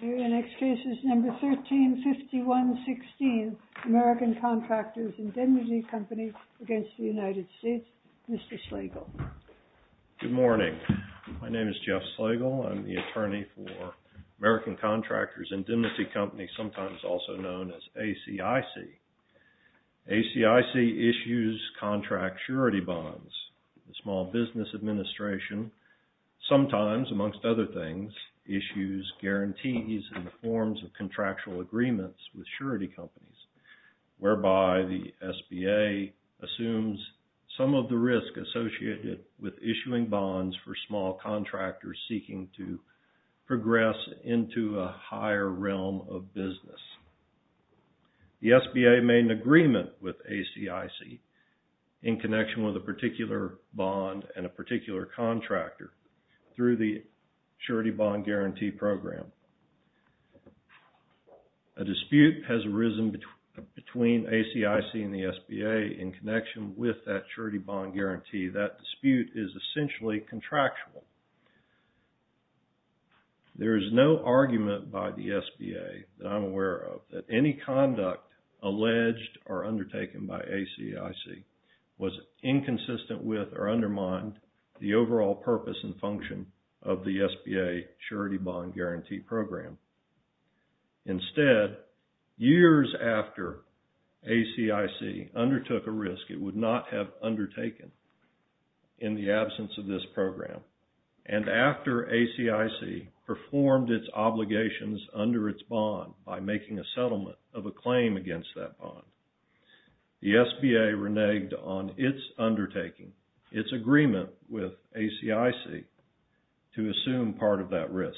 The next case is number 1351-16, American Contractors Indemnity Company v. United States. Mr. Slagle. Good morning. My name is Jeff Slagle. I'm the attorney for American Contractors Indemnity Company, sometimes also known as ACIC. ACIC issues contract surety bonds. The Small Business Administration sometimes, amongst other things, issues guarantees in the forms of contractual agreements with surety companies, whereby the SBA assumes some of the risk associated with issuing bonds for small contractors seeking to progress into a higher realm of business. The SBA made an agreement with ACIC in connection with a particular bond and a particular contractor through the surety bond guarantee program. A dispute has arisen between ACIC and the SBA in connection with that surety bond guarantee. That dispute is essentially contractual. There is no argument by the SBA that I'm aware of that any conduct alleged or undertaken by ACIC was inconsistent with or undermined the overall purpose and function of the SBA surety bond guarantee program. Instead, years after ACIC undertook a risk it would not have undertaken in the absence of this program, and after ACIC performed its obligations under its bond by making a settlement of a claim against that bond, the SBA reneged on its undertaking, its agreement with ACIC to assume part of that risk.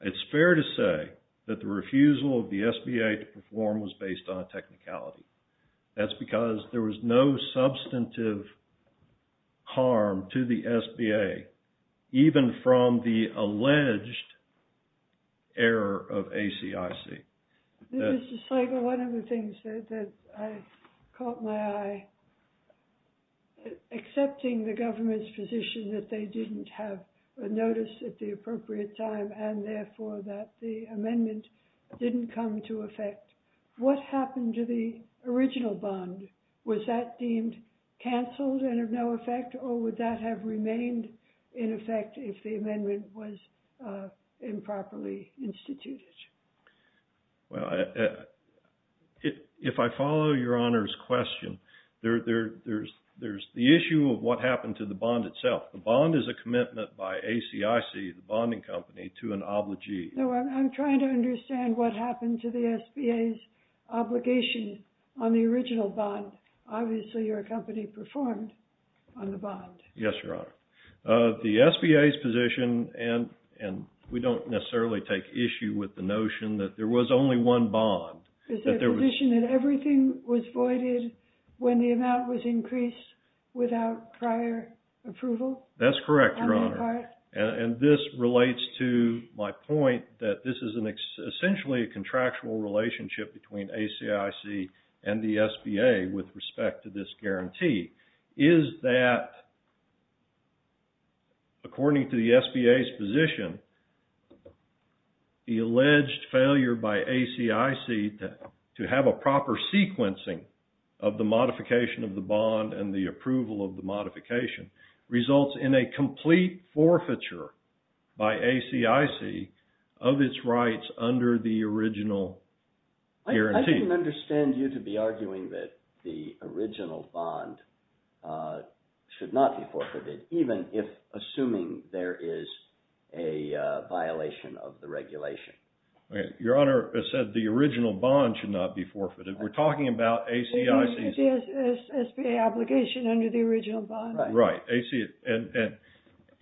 It's fair to say that the refusal of the SBA to perform was based on a technicality. That's because there was no substantive harm to the SBA even from the alleged error of ACIC. This is just like one of the things that I caught my eye. Accepting the government's position that they didn't have a notice at the appropriate time and therefore that the amendment didn't come to effect, what happened to the original bond? Was that deemed canceled and of no effect, or would that have remained in effect if the amendment was improperly instituted? Well, if I follow your Honor's question, there's the issue of what happened to the bond itself. The bond is a commitment by ACIC, the bonding company, to an obligee. I'm trying to understand what happened to the SBA's obligation on the original bond. Obviously your company performed on the bond. Yes, Your Honor. The SBA's position, and we don't necessarily take issue with the notion that there was only one bond. Is their position that everything was voided when the amount was increased without prior approval? That's correct, Your Honor. And this relates to my point that this is essentially a contractual relationship between ACIC and the SBA with respect to this guarantee. Is that, according to the SBA's position, the alleged failure by ACIC to have a proper sequencing of the modification of the bond and the approval of the modification results in a complete forfeiture by ACIC of its rights under the original guarantee? I don't understand you to be arguing that the original bond should not be forfeited, even if assuming there is a violation of the regulation. Your Honor said the original bond should not be forfeited. We're talking about ACIC's… The SBA obligation under the original bond. Right.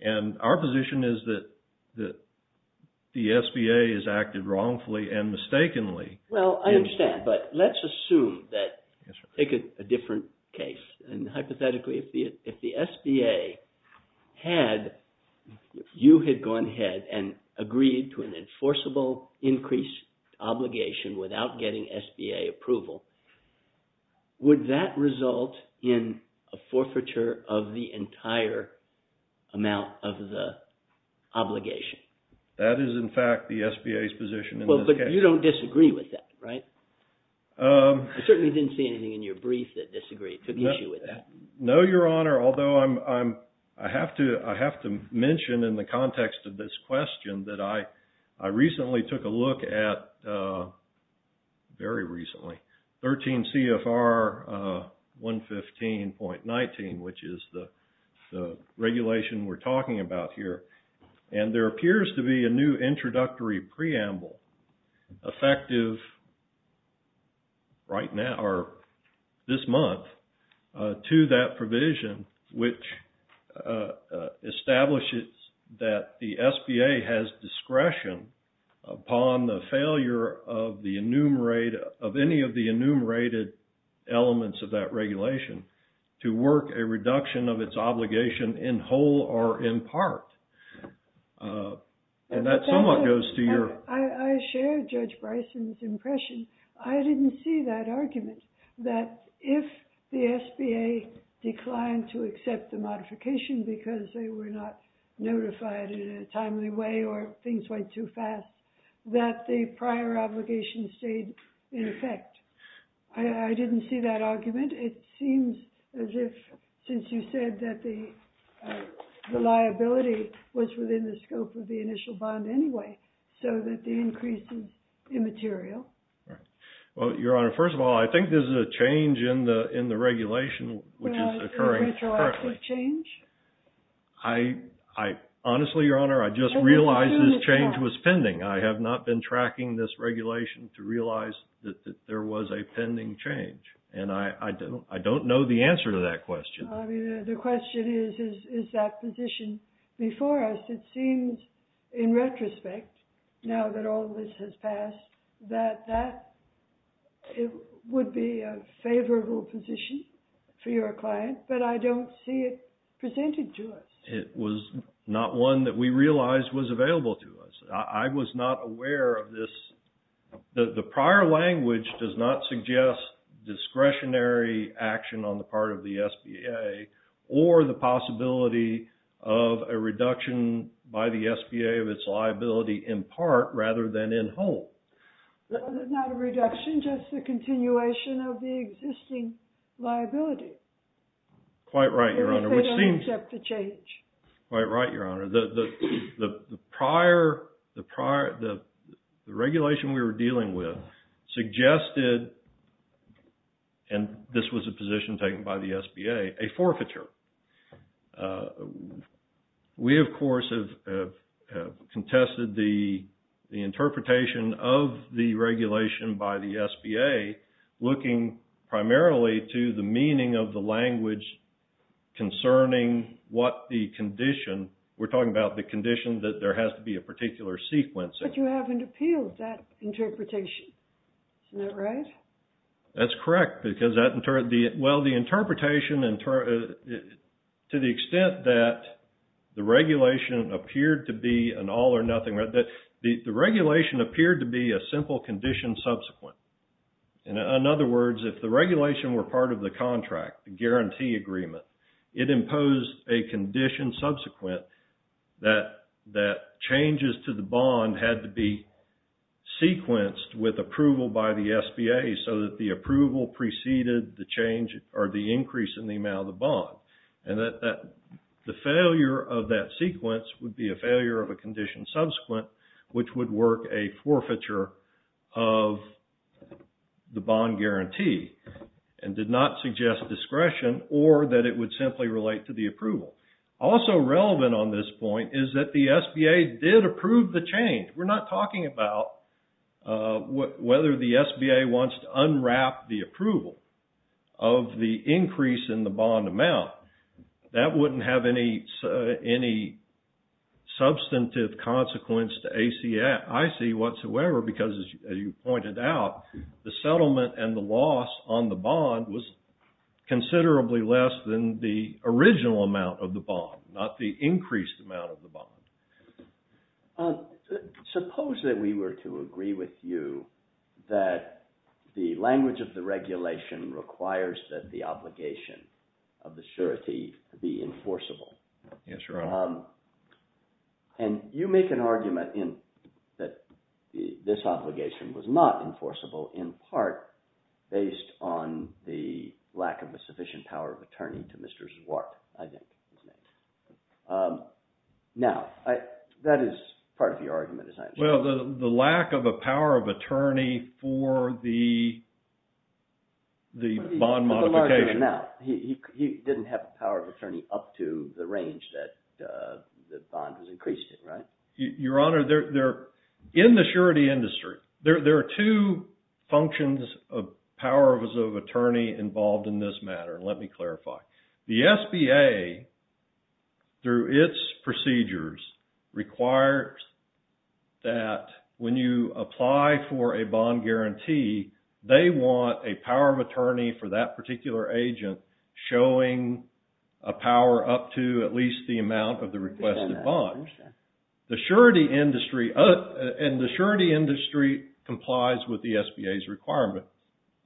And our position is that the SBA has acted wrongfully and mistakenly. Well, I understand, but let's assume that, take a different case, and hypothetically, if the SBA had, you had gone ahead and agreed to an enforceable increase obligation without getting SBA approval, would that result in a forfeiture of the entire amount of the obligation? That is, in fact, the SBA's position in this case. You don't disagree with that, right? I certainly didn't see anything in your brief that took issue with that. effective right now or this month to that provision, which establishes that the SBA has discretion upon the failure of any of the enumerated elements of that regulation to work a reduction of its obligation in whole or in part. And that somewhat goes to your… I share Judge Bryson's impression. I didn't see that argument, that if the SBA declined to accept the modification because they were not notified in a timely way or things went too fast, that the prior obligation stayed in effect. I didn't see that argument. It seems as if, since you said that the liability was within the scope of the initial bond anyway, so that the increase is immaterial. Right. Well, Your Honor, first of all, I think there's a change in the regulation, which is occurring… A retroactive change? Honestly, Your Honor, I just realized this change was pending. I have not been tracking this regulation to realize that there was a pending change. And I don't know the answer to that question. I mean, the question is, is that position before us? It seems, in retrospect, now that all this has passed, that that would be a favorable position for your client, but I don't see it presented to us. It was not one that we realized was available to us. I was not aware of this. The prior language does not suggest discretionary action on the part of the SBA or the possibility of a reduction by the SBA of its liability, in part, rather than in whole. It's not a reduction, just a continuation of the existing liability. Quite right, Your Honor, which seems… If they don't accept the change. Quite right, Your Honor. The regulation we were dealing with suggested, and this was a position taken by the SBA, a forfeiture. We, of course, have contested the interpretation of the regulation by the SBA, looking primarily to the meaning of the language concerning what the condition… We're talking about the condition that there has to be a particular sequence. But you haven't appealed that interpretation. Isn't that right? That's correct. Well, the interpretation, to the extent that the regulation appeared to be an all or nothing… The regulation appeared to be a simple condition subsequent. In other words, if the regulation were part of the contract, the guarantee agreement, it imposed a condition subsequent that changes to the bond had to be sequenced with approval by the SBA so that the approval preceded the change or the increase in the amount of the bond. And the failure of that sequence would be a failure of a condition subsequent, which would work a forfeiture of the bond guarantee and did not suggest discretion or that it would simply relate to the approval. Also relevant on this point is that the SBA did approve the change. We're not talking about whether the SBA wants to unwrap the approval of the increase in the bond amount. That wouldn't have any substantive consequence to ACIC whatsoever because, as you pointed out, the settlement and the loss on the bond was considerably less than the original amount of the bond, not the increased amount of the bond. Suppose that we were to agree with you that the language of the regulation requires that the obligation of the surety be enforceable. Yes, Your Honor. And you make an argument that this obligation was not enforceable in part based on the lack of a sufficient power of attorney to Mr. Zwart. Now, that is part of your argument. Well, the lack of a power of attorney for the bond modification. He didn't have the power of attorney up to the range that the bond was increased in, right? Your Honor, in the surety industry, there are two functions of power of attorney involved in this matter. Let me clarify. The SBA, through its procedures, requires that when you apply for a bond guarantee, they want a power of attorney for that particular agent showing a power up to at least the amount of the requested bond. The surety industry complies with the SBA's requirement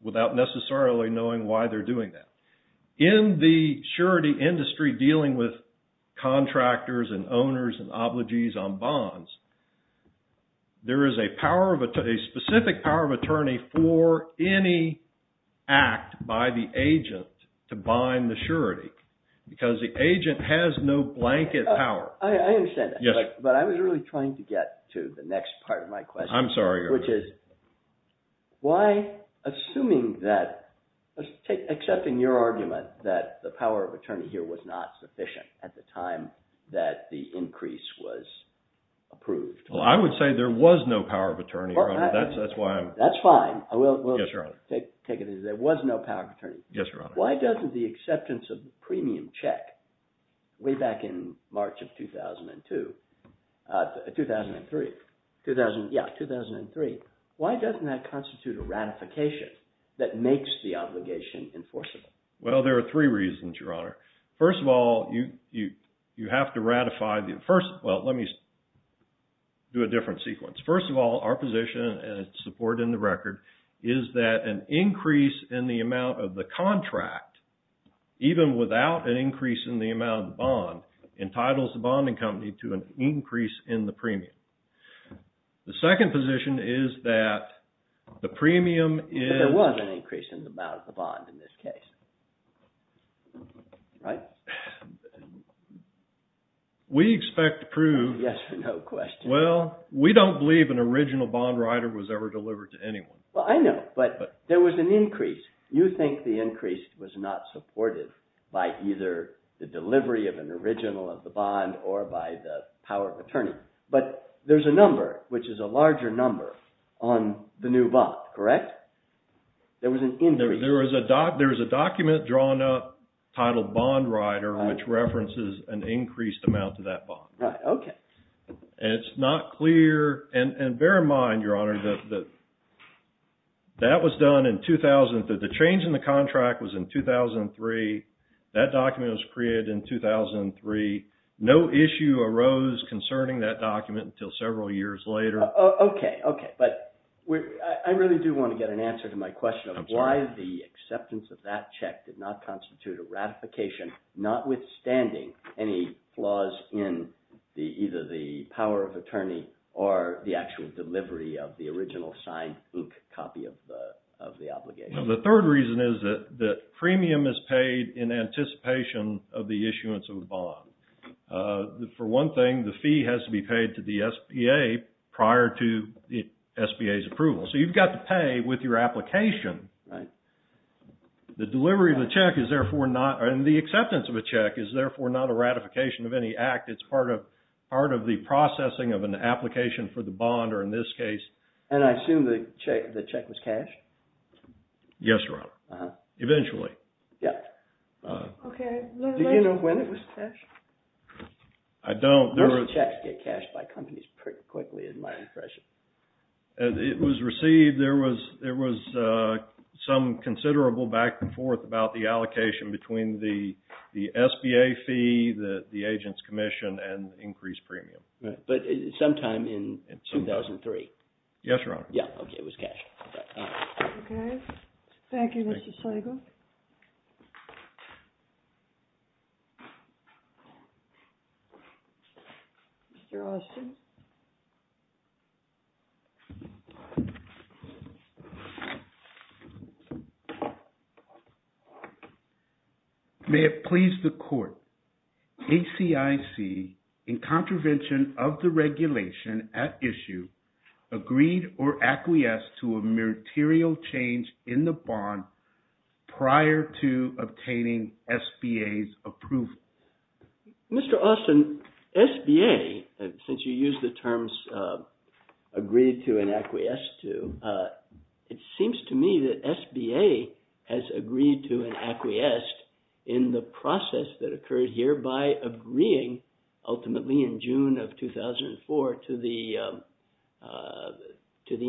without necessarily knowing why they're doing that. In the surety industry dealing with contractors and owners and obligees on bonds, there is a specific power of attorney for any act by the agent to bind the surety. Because the agent has no blanket power. I understand that. Yes. But I was really trying to get to the next part of my question. I'm sorry, Your Honor. Why, assuming that – accepting your argument that the power of attorney here was not sufficient at the time that the increase was approved. Well, I would say there was no power of attorney, Your Honor. That's why I'm – That's fine. Yes, Your Honor. I will take it as there was no power of attorney. Yes, Your Honor. Why doesn't the acceptance of the premium check way back in March of 2002 – 2003. 2003. Yes, 2003. Why doesn't that constitute a ratification that makes the obligation enforceable? Well, there are three reasons, Your Honor. First of all, you have to ratify the – well, let me do a different sequence. First of all, our position, and it's supported in the record, is that an increase in the amount of the contract, even without an increase in the amount of the bond, entitles the bonding company to an increase in the premium. The second position is that the premium is – But there was an increase in the amount of the bond in this case. Right? We expect to prove – Yes or no question. Well, we don't believe an original bond rider was ever delivered to anyone. Well, I know. But there was an increase. You think the increase was not supported by either the delivery of an original of the bond or by the power of attorney. But there's a number, which is a larger number, on the new bond, correct? There was an increase. There is a document drawn up titled Bond Rider, which references an increased amount of that bond. Right. It's not clear – and bear in mind, Your Honor, that that was done in – that the change in the contract was in 2003. That document was created in 2003. No issue arose concerning that document until several years later. Okay, okay. But I really do want to get an answer to my question of why the acceptance of that check did not constitute a ratification, notwithstanding any flaws in either the power of attorney or the actual delivery of the original signed book copy of the obligation. The third reason is that the premium is paid in anticipation of the issuance of the bond. For one thing, the fee has to be paid to the SBA prior to the SBA's approval. So you've got to pay with your application. Right. The delivery of the check is therefore not – and the acceptance of a check is therefore not a ratification of any act. It's part of the processing of an application for the bond, or in this case – And I assume the check was cashed? Yes, Your Honor. Eventually. Yeah. Okay. Do you know when it was cashed? I don't. Most checks get cashed by companies pretty quickly in my impression. It was received – there was some considerable back and forth about the allocation between the SBA fee, the agent's commission, and increased premium. But sometime in 2003? Yes, Your Honor. Yeah, okay, it was cashed. Okay. Thank you, Mr. Slagle. Mr. Olsen? May it please the Court. ACIC, in contravention of the regulation at issue, agreed or acquiesced to a meritorial change in the bond prior to obtaining SBA's approval. Mr. Olsen, SBA, since you used the terms agreed to and acquiesced to, it seems to me that SBA has agreed to and acquiesced in the process that occurred here by agreeing ultimately in June of 2004 to the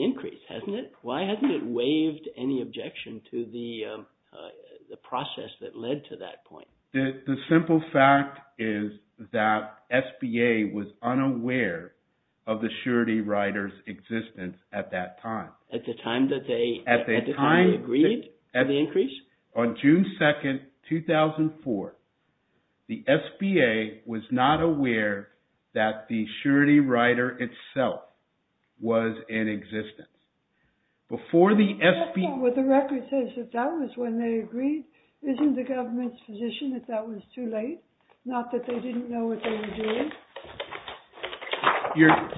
increase, hasn't it? Why hasn't it waived any objection to the process that led to that point? The simple fact is that SBA was unaware of the surety rider's existence at that time. At the time that they agreed to the increase? On June 2nd, 2004, the SBA was not aware that the surety rider itself was in existence. That's not what the record says. If that was when they agreed, isn't the government's position that that was too late? Not that they didn't know what they were doing?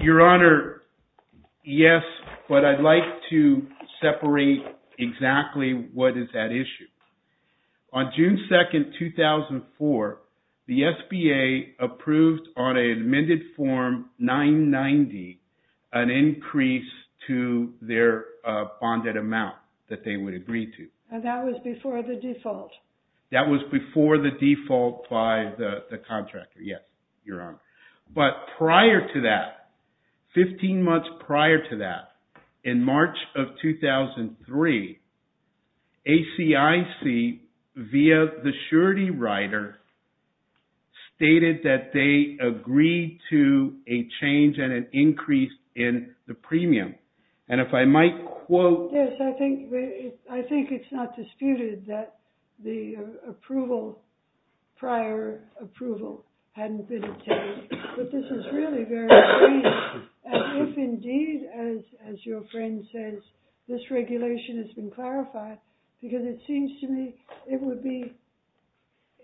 Your Honor, yes, but I'd like to separate exactly what is at issue. On June 2nd, 2004, the SBA approved on an amended form 990 an increase to their bonded amount that they would agree to. That was before the default? That was before the default by the contractor, yes, Your Honor. But prior to that, 15 months prior to that, in March of 2003, ACIC via the surety rider stated that they agreed to a change and an increase in the premium. Yes, I think it's not disputed that the prior approval hadn't been obtained. But this is really very strange. And if indeed, as your friend says, this regulation has been clarified, because it seems to me it would be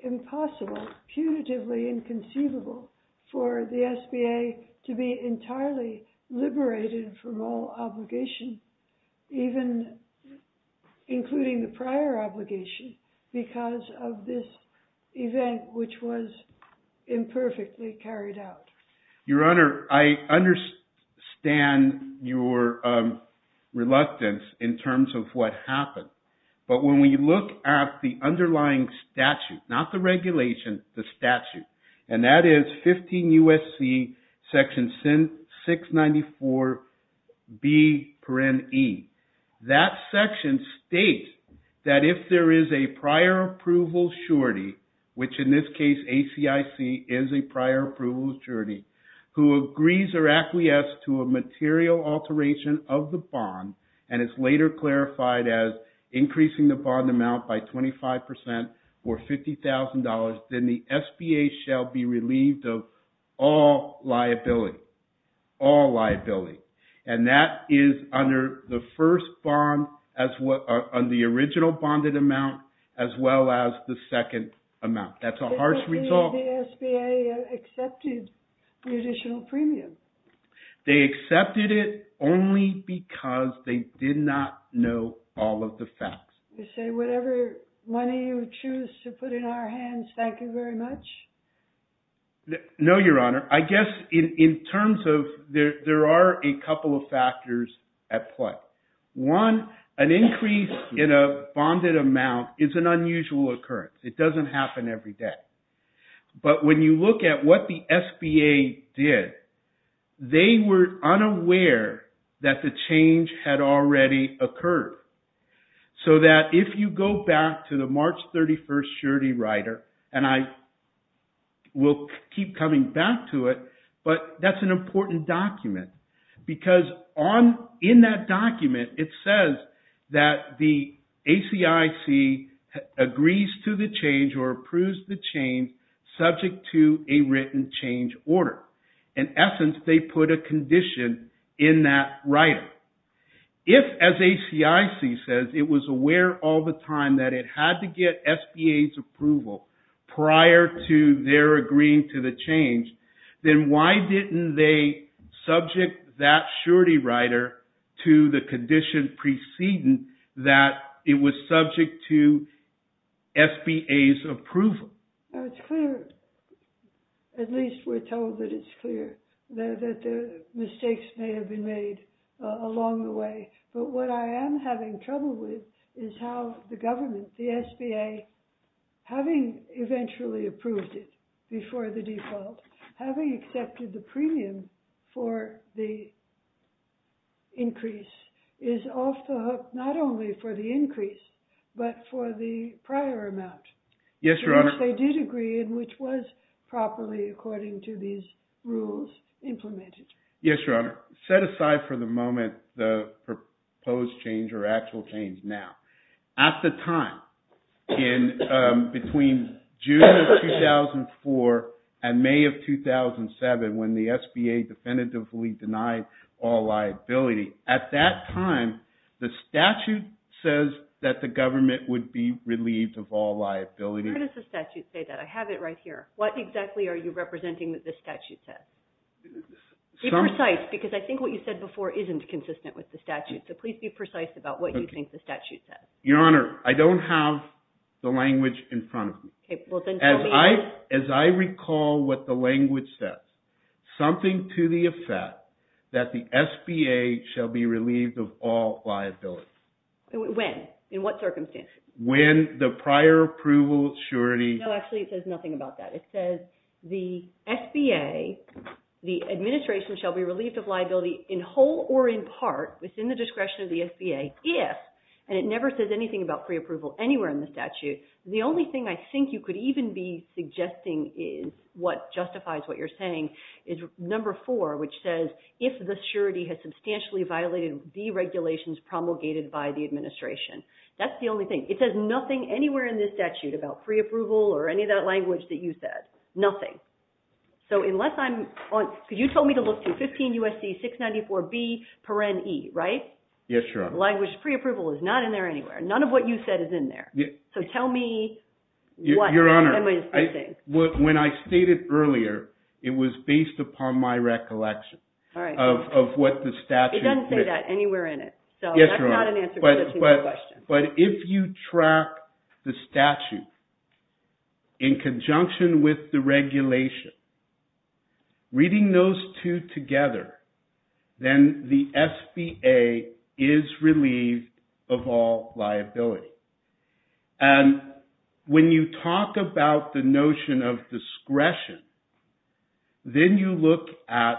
impossible, punitively inconceivable, for the SBA to be entirely liberated from all obligation, even including the prior obligation, because of this event which was imperfectly carried out. Your Honor, I understand your reluctance in terms of what happened. But when we look at the underlying statute, not the regulation, the statute, and that is 15 U.S.C. section 694B. That section states that if there is a prior approval surety, which in this case ACIC is a prior approval surety, who agrees or acquiesce to a material alteration of the bond, and is later clarified as increasing the bond amount by 25% or $50,000, then the SBA shall be relieved of all liability. All liability. And that is under the first bond, on the original bonded amount, as well as the second amount. That's a harsh result. The SBA accepted the additional premium. They accepted it only because they did not know all of the facts. You say whatever money you choose to put in our hands, thank you very much? No, Your Honor. I guess in terms of there are a couple of factors at play. One, an increase in a bonded amount is an unusual occurrence. It doesn't happen every day. But when you look at what the SBA did, they were unaware that the change had already occurred. So that if you go back to the March 31st surety rider, and I will keep coming back to it, but that's an important document. Because in that document it says that the ACIC agrees to the change or approves the change subject to a written change order. In essence, they put a condition in that rider. If, as ACIC says, it was aware all the time that it had to get SBA's approval prior to their agreeing to the change, then why didn't they subject that surety rider to the condition preceding that it was subject to SBA's approval? Now it's clear, at least we're told that it's clear, that mistakes may have been made along the way. But what I am having trouble with is how the government, the SBA, having eventually approved it before the default, having accepted the premium for the increase, is off the hook not only for the increase, but for the prior amount. Yes, Your Honor. Which they did agree and which was properly, according to these rules, implemented. Yes, Your Honor. Set aside for the moment the proposed change or actual change now. At the time, between June of 2004 and May of 2007, when the SBA definitively denied all liability, at that time, the statute says that the government would be relieved of all liability. Where does the statute say that? I have it right here. What exactly are you representing that the statute says? Be precise, because I think what you said before isn't consistent with the statute. So please be precise about what you think the statute says. Your Honor, I don't have the language in front of me. As I recall what the language says, something to the effect that the SBA shall be relieved of all liability. When? In what circumstances? When the prior approval surety... No, actually it says nothing about that. It says the SBA, the administration, shall be relieved of liability in whole or in part, within the discretion of the SBA, if, and it never says anything about pre-approval anywhere in the statute, the only thing I think you could even be suggesting is what justifies what you're saying, is number four, which says, if the surety has substantially violated the regulations promulgated by the administration. That's the only thing. It says nothing anywhere in this statute about pre-approval or any of that language that you said. Nothing. So unless I'm on... Because you told me to look through 15 U.S.C. 694B, paren E, right? Yes, Your Honor. Language pre-approval is not in there anywhere. None of what you said is in there. So tell me what am I missing? Your Honor, when I stated earlier, it was based upon my recollection of what the statute... It doesn't say that anywhere in it. So that's not an answer to my question. But if you track the statute in conjunction with the regulation, reading those two together, then the SBA is relieved of all liability. And when you talk about the notion of discretion, then you look at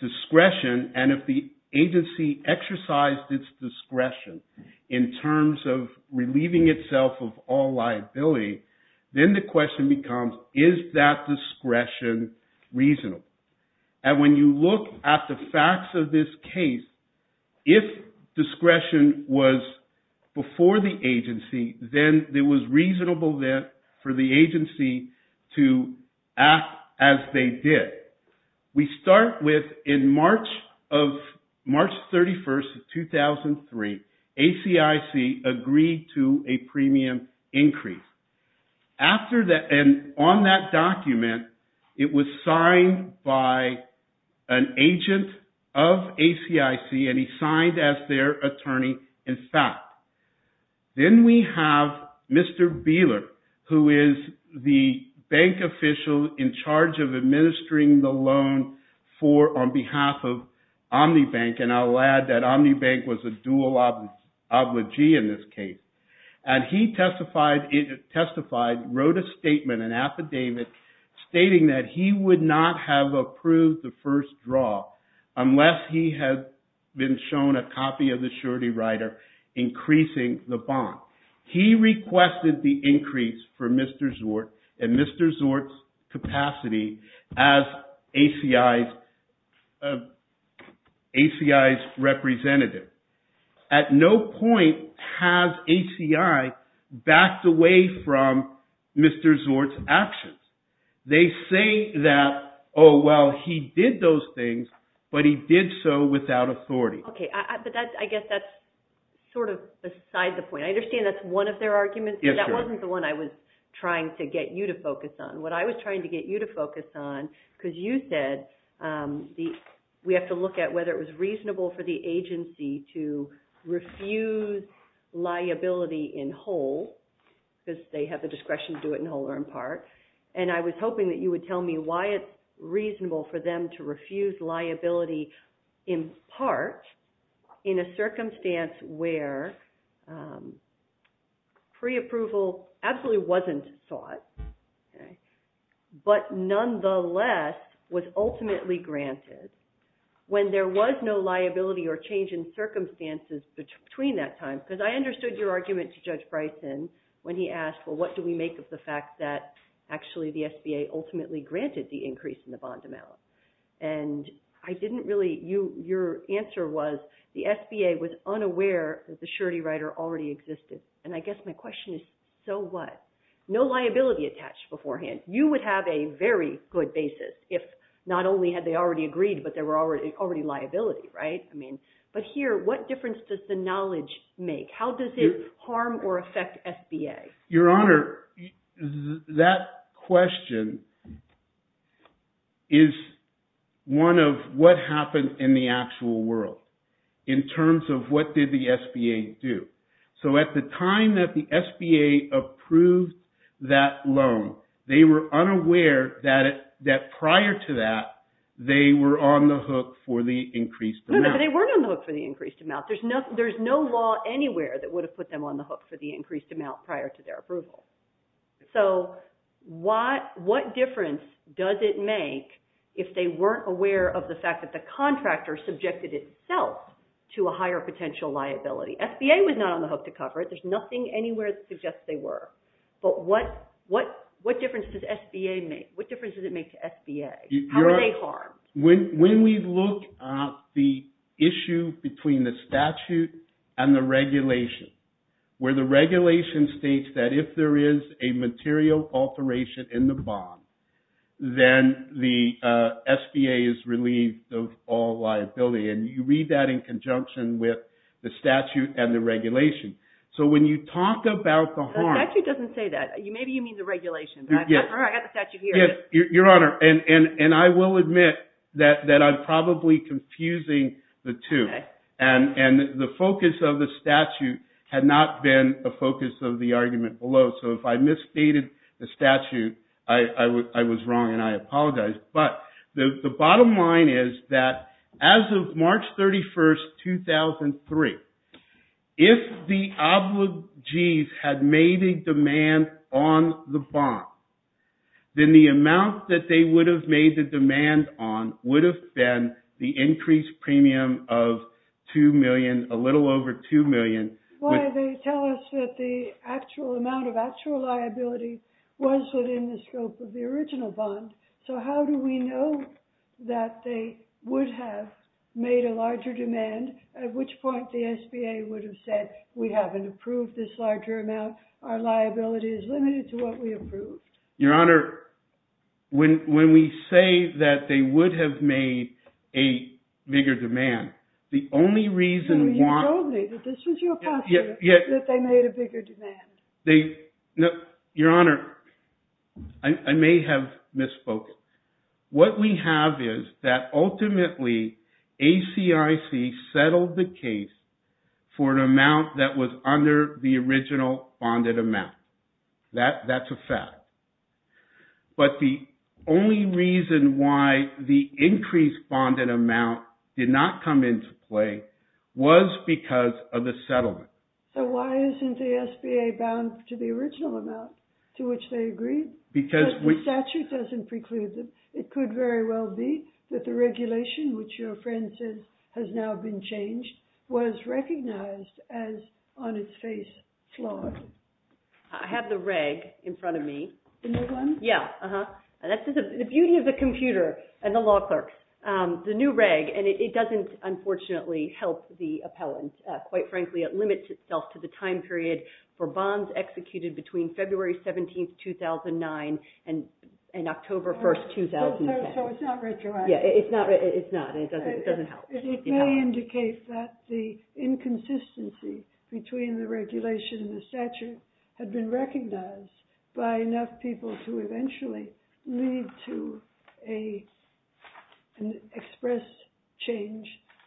discretion, and if the agency exercised its discretion in terms of relieving itself of all liability, then the question becomes, is that discretion reasonable? And when you look at the facts of this case, if discretion was before the agency, then it was reasonable then for the agency to act as they did. We start with in March 31st of 2003, ACIC agreed to a premium increase. After that, and on that document, it was signed by an agent of ACIC, and he signed as their attorney in fact. Then we have Mr. Beeler, who is the bank official in charge of administering the loan on behalf of OmniBank, and I'll add that OmniBank was a dual obligee in this case. And he testified, wrote a statement, an affidavit, stating that he would not have approved the first draw unless he had been shown a copy of the surety rider increasing the bond. He requested the increase for Mr. Zort and Mr. Zort's capacity as ACI's representative. At no point has ACI backed away from Mr. Zort's actions. They say that, oh, well, he did those things, but he did so without authority. Okay, but I guess that's sort of beside the point. I understand that's one of their arguments, but that wasn't the one I was trying to get you to focus on. What I was trying to get you to focus on, because you said we have to look at whether it was reasonable for the agency to refuse liability in whole, because they have the discretion to do it in whole or in part, and I was hoping that you would tell me why it's reasonable for them to refuse liability in part in a circumstance where preapproval absolutely wasn't sought, but nonetheless was ultimately granted. When there was no liability or change in circumstances between that time, because I understood your argument to Judge Bryson when he asked, well, what do we make of the fact that actually the SBA ultimately granted the increase in the bond amount, and I didn't really, your answer was the SBA was unaware that the surety rider already existed, and I guess my question is, so what? No liability attached beforehand. You would have a very good basis if not only had they already agreed, but there were already liability, right? But here, what difference does the knowledge make? How does it harm or affect SBA? Your Honor, that question is one of what happened in the actual world in terms of what did the SBA do. So at the time that the SBA approved that loan, they were unaware that prior to that, they were on the hook for the increased amount. No, but they weren't on the hook for the increased amount. There's no law anywhere that would have put them on the hook for the increased amount prior to their approval. So what difference does it make if they weren't aware of the fact that the contractor subjected itself to a higher potential liability? SBA was not on the hook to cover it. There's nothing anywhere that suggests they were. But what difference does SBA make? What difference does it make to SBA? How are they harmed? When we look at the issue between the statute and the regulation, where the regulation states that if there is a material alteration in the bond, then the SBA is relieved of all liability. And you read that in conjunction with the statute and the regulation. So when you talk about the harm. The statute doesn't say that. Maybe you mean the regulation. I've got the statute here. Yes, Your Honor. And I will admit that I'm probably confusing the two. And the focus of the statute had not been the focus of the argument below. So if I misstated the statute, I was wrong and I apologize. But the bottom line is that as of March 31, 2003, if the obligees had made a demand on the bond, then the amount that they would have made the demand on would have been the increased premium of $2 million, a little over $2 million. Why they tell us that the actual amount of actual liability was within the scope of the original bond. So how do we know that they would have made a larger demand, at which point the SBA would have said, we haven't approved this larger amount. Our liability is limited to what we approved. Your Honor, when we say that they would have made a bigger demand, the only reason why. You told me that this was your position, that they made a bigger demand. Your Honor, I may have misspoken. What we have is that ultimately ACIC settled the case for an amount that was under the original bonded amount. That's a fact. But the only reason why the increased bonded amount did not come into play was because of the settlement. So why isn't the SBA bound to the original amount to which they agreed? Because the statute doesn't preclude them. It could very well be that the regulation, which your friend says has now been changed, was recognized as, on its face, flawed. I have the reg in front of me. The new one? Yeah. That's the beauty of the computer and the law clerks. The new reg, and it doesn't, unfortunately, help the appellant. Quite frankly, it limits itself to the time period for bonds executed between February 17, 2009, and October 1, 2010. So it's not retroactive. Yeah. It's not. It doesn't help. It may indicate that the inconsistency between the regulation and the statute had been recognized by enough people to eventually lead to an express change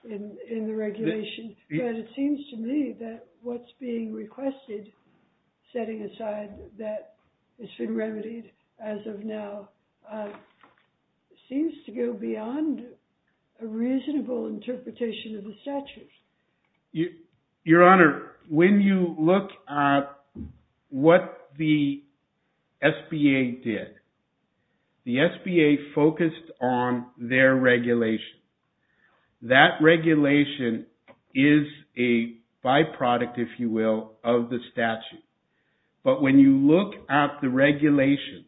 in the regulation. But it seems to me that what's being requested, setting aside that it's been remedied as of now, seems to go beyond a reasonable interpretation of the statute. Your Honor, when you look at what the SBA did, the SBA focused on their regulation. That regulation is a byproduct, if you will, of the statute. But when you look at the regulation,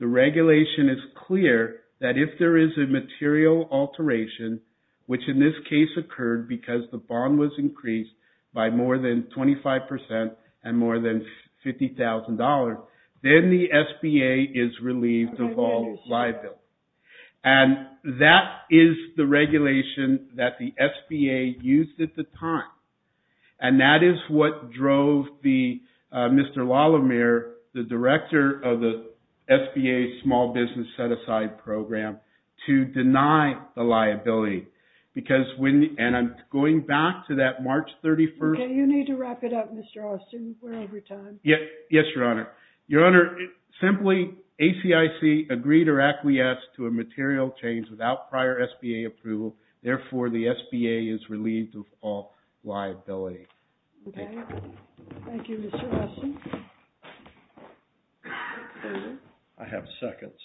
the regulation is clear that if there is a material alteration, which in this case occurred because the bond was increased by more than 25% and more than $50,000, then the SBA is relieved of all liability. And that is the regulation that the SBA used at the time. And that is what drove Mr. Lalamere, the director of the SBA Small Business Set-Aside Program, to deny the liability. And I'm going back to that March 31. OK. You need to wrap it up, Mr. Austin. We're over time. Yes, Your Honor. Your Honor, simply, ACIC agreed or acquiesced to a material change without prior SBA approval. Therefore, the SBA is relieved of all liability. OK. Thank you, Mr. Austin. I have seconds.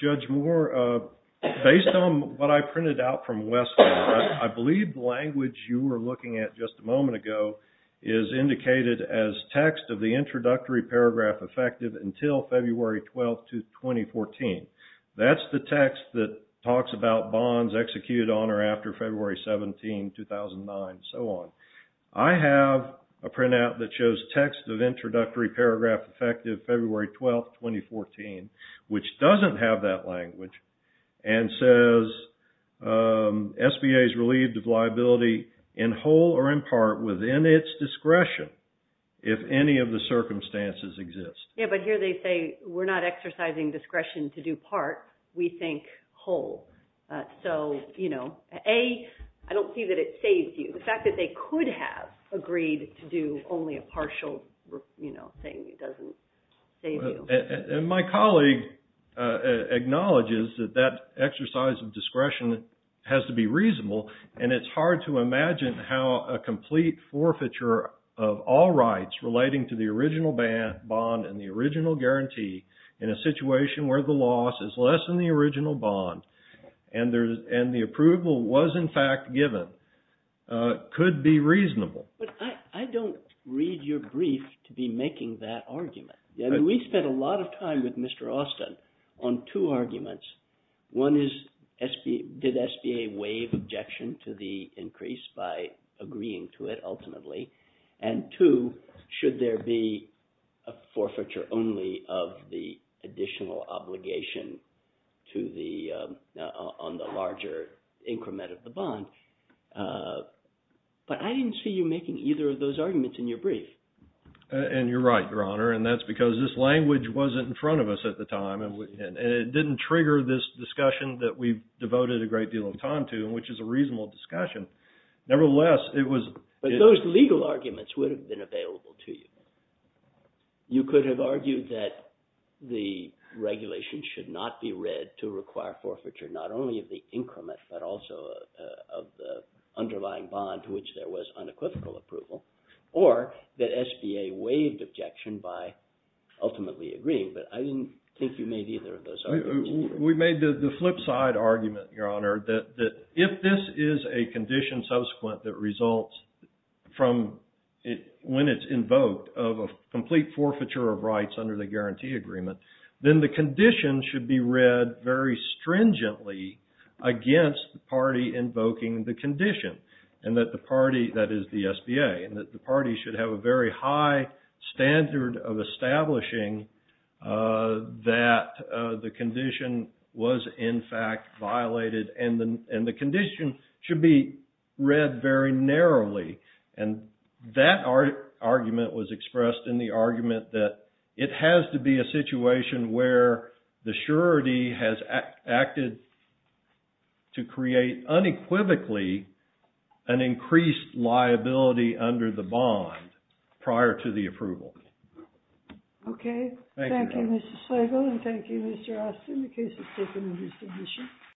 Judge Moore, based on what I printed out from Weston, I believe the language you were looking at just a moment ago is indicated as text of the introductory paragraph effective until February 12, 2014. That's the text that talks about bonds executed on or after February 17, 2009, and so on. I have a printout that shows text of introductory paragraph effective February 12, 2014, which doesn't have that language within its discretion, if any of the circumstances exist. Yeah, but here they say, we're not exercising discretion to do part. We think whole. So A, I don't see that it saves you. The fact that they could have agreed to do only a partial thing doesn't save you. And my colleague acknowledges that that exercise of discretion has to be reasonable. And it's hard to imagine how a complete forfeiture of all rights relating to the original bond and the original guarantee in a situation where the loss is less than the original bond and the approval was, in fact, given, could be reasonable. But I don't read your brief to be making that argument. I mean, we spent a lot of time with Mr. Austin on two arguments. One is, did SBA waive objection to the increase by agreeing to it ultimately? And two, should there be a forfeiture only of the additional obligation on the larger increment of the bond? But I didn't see you making either of those arguments in your brief. And you're right, Your Honor. And that's because this language wasn't in front of us at the time. And it didn't trigger this discussion that we devoted a great deal of time to, which is a reasonable discussion. Nevertheless, it was. But those legal arguments would have been available to you. You could have argued that the regulation should not be read to require forfeiture not only of the increment, but also of the underlying bond to which there was unequivocal approval. Or that SBA waived objection by ultimately agreeing. But I didn't think you made either of those arguments. We made the flip side argument, Your Honor, that if this is a condition subsequent that results from when it's invoked of a complete forfeiture of rights under the guarantee agreement, then the condition should be read very stringently against the party invoking the condition. And that the party, that is the SBA, and that the party should have a very high standard of establishing that the condition was, in fact, violated. And the condition should be read very narrowly. And that argument was expressed in the argument that it has to be a situation where the surety has acted to create unequivocally an increased liability under the bond prior to the approval. OK. Thank you, Your Honor. Thank you, Mr. Slago. And thank you, Mr. Austin, in case it's taken into consideration.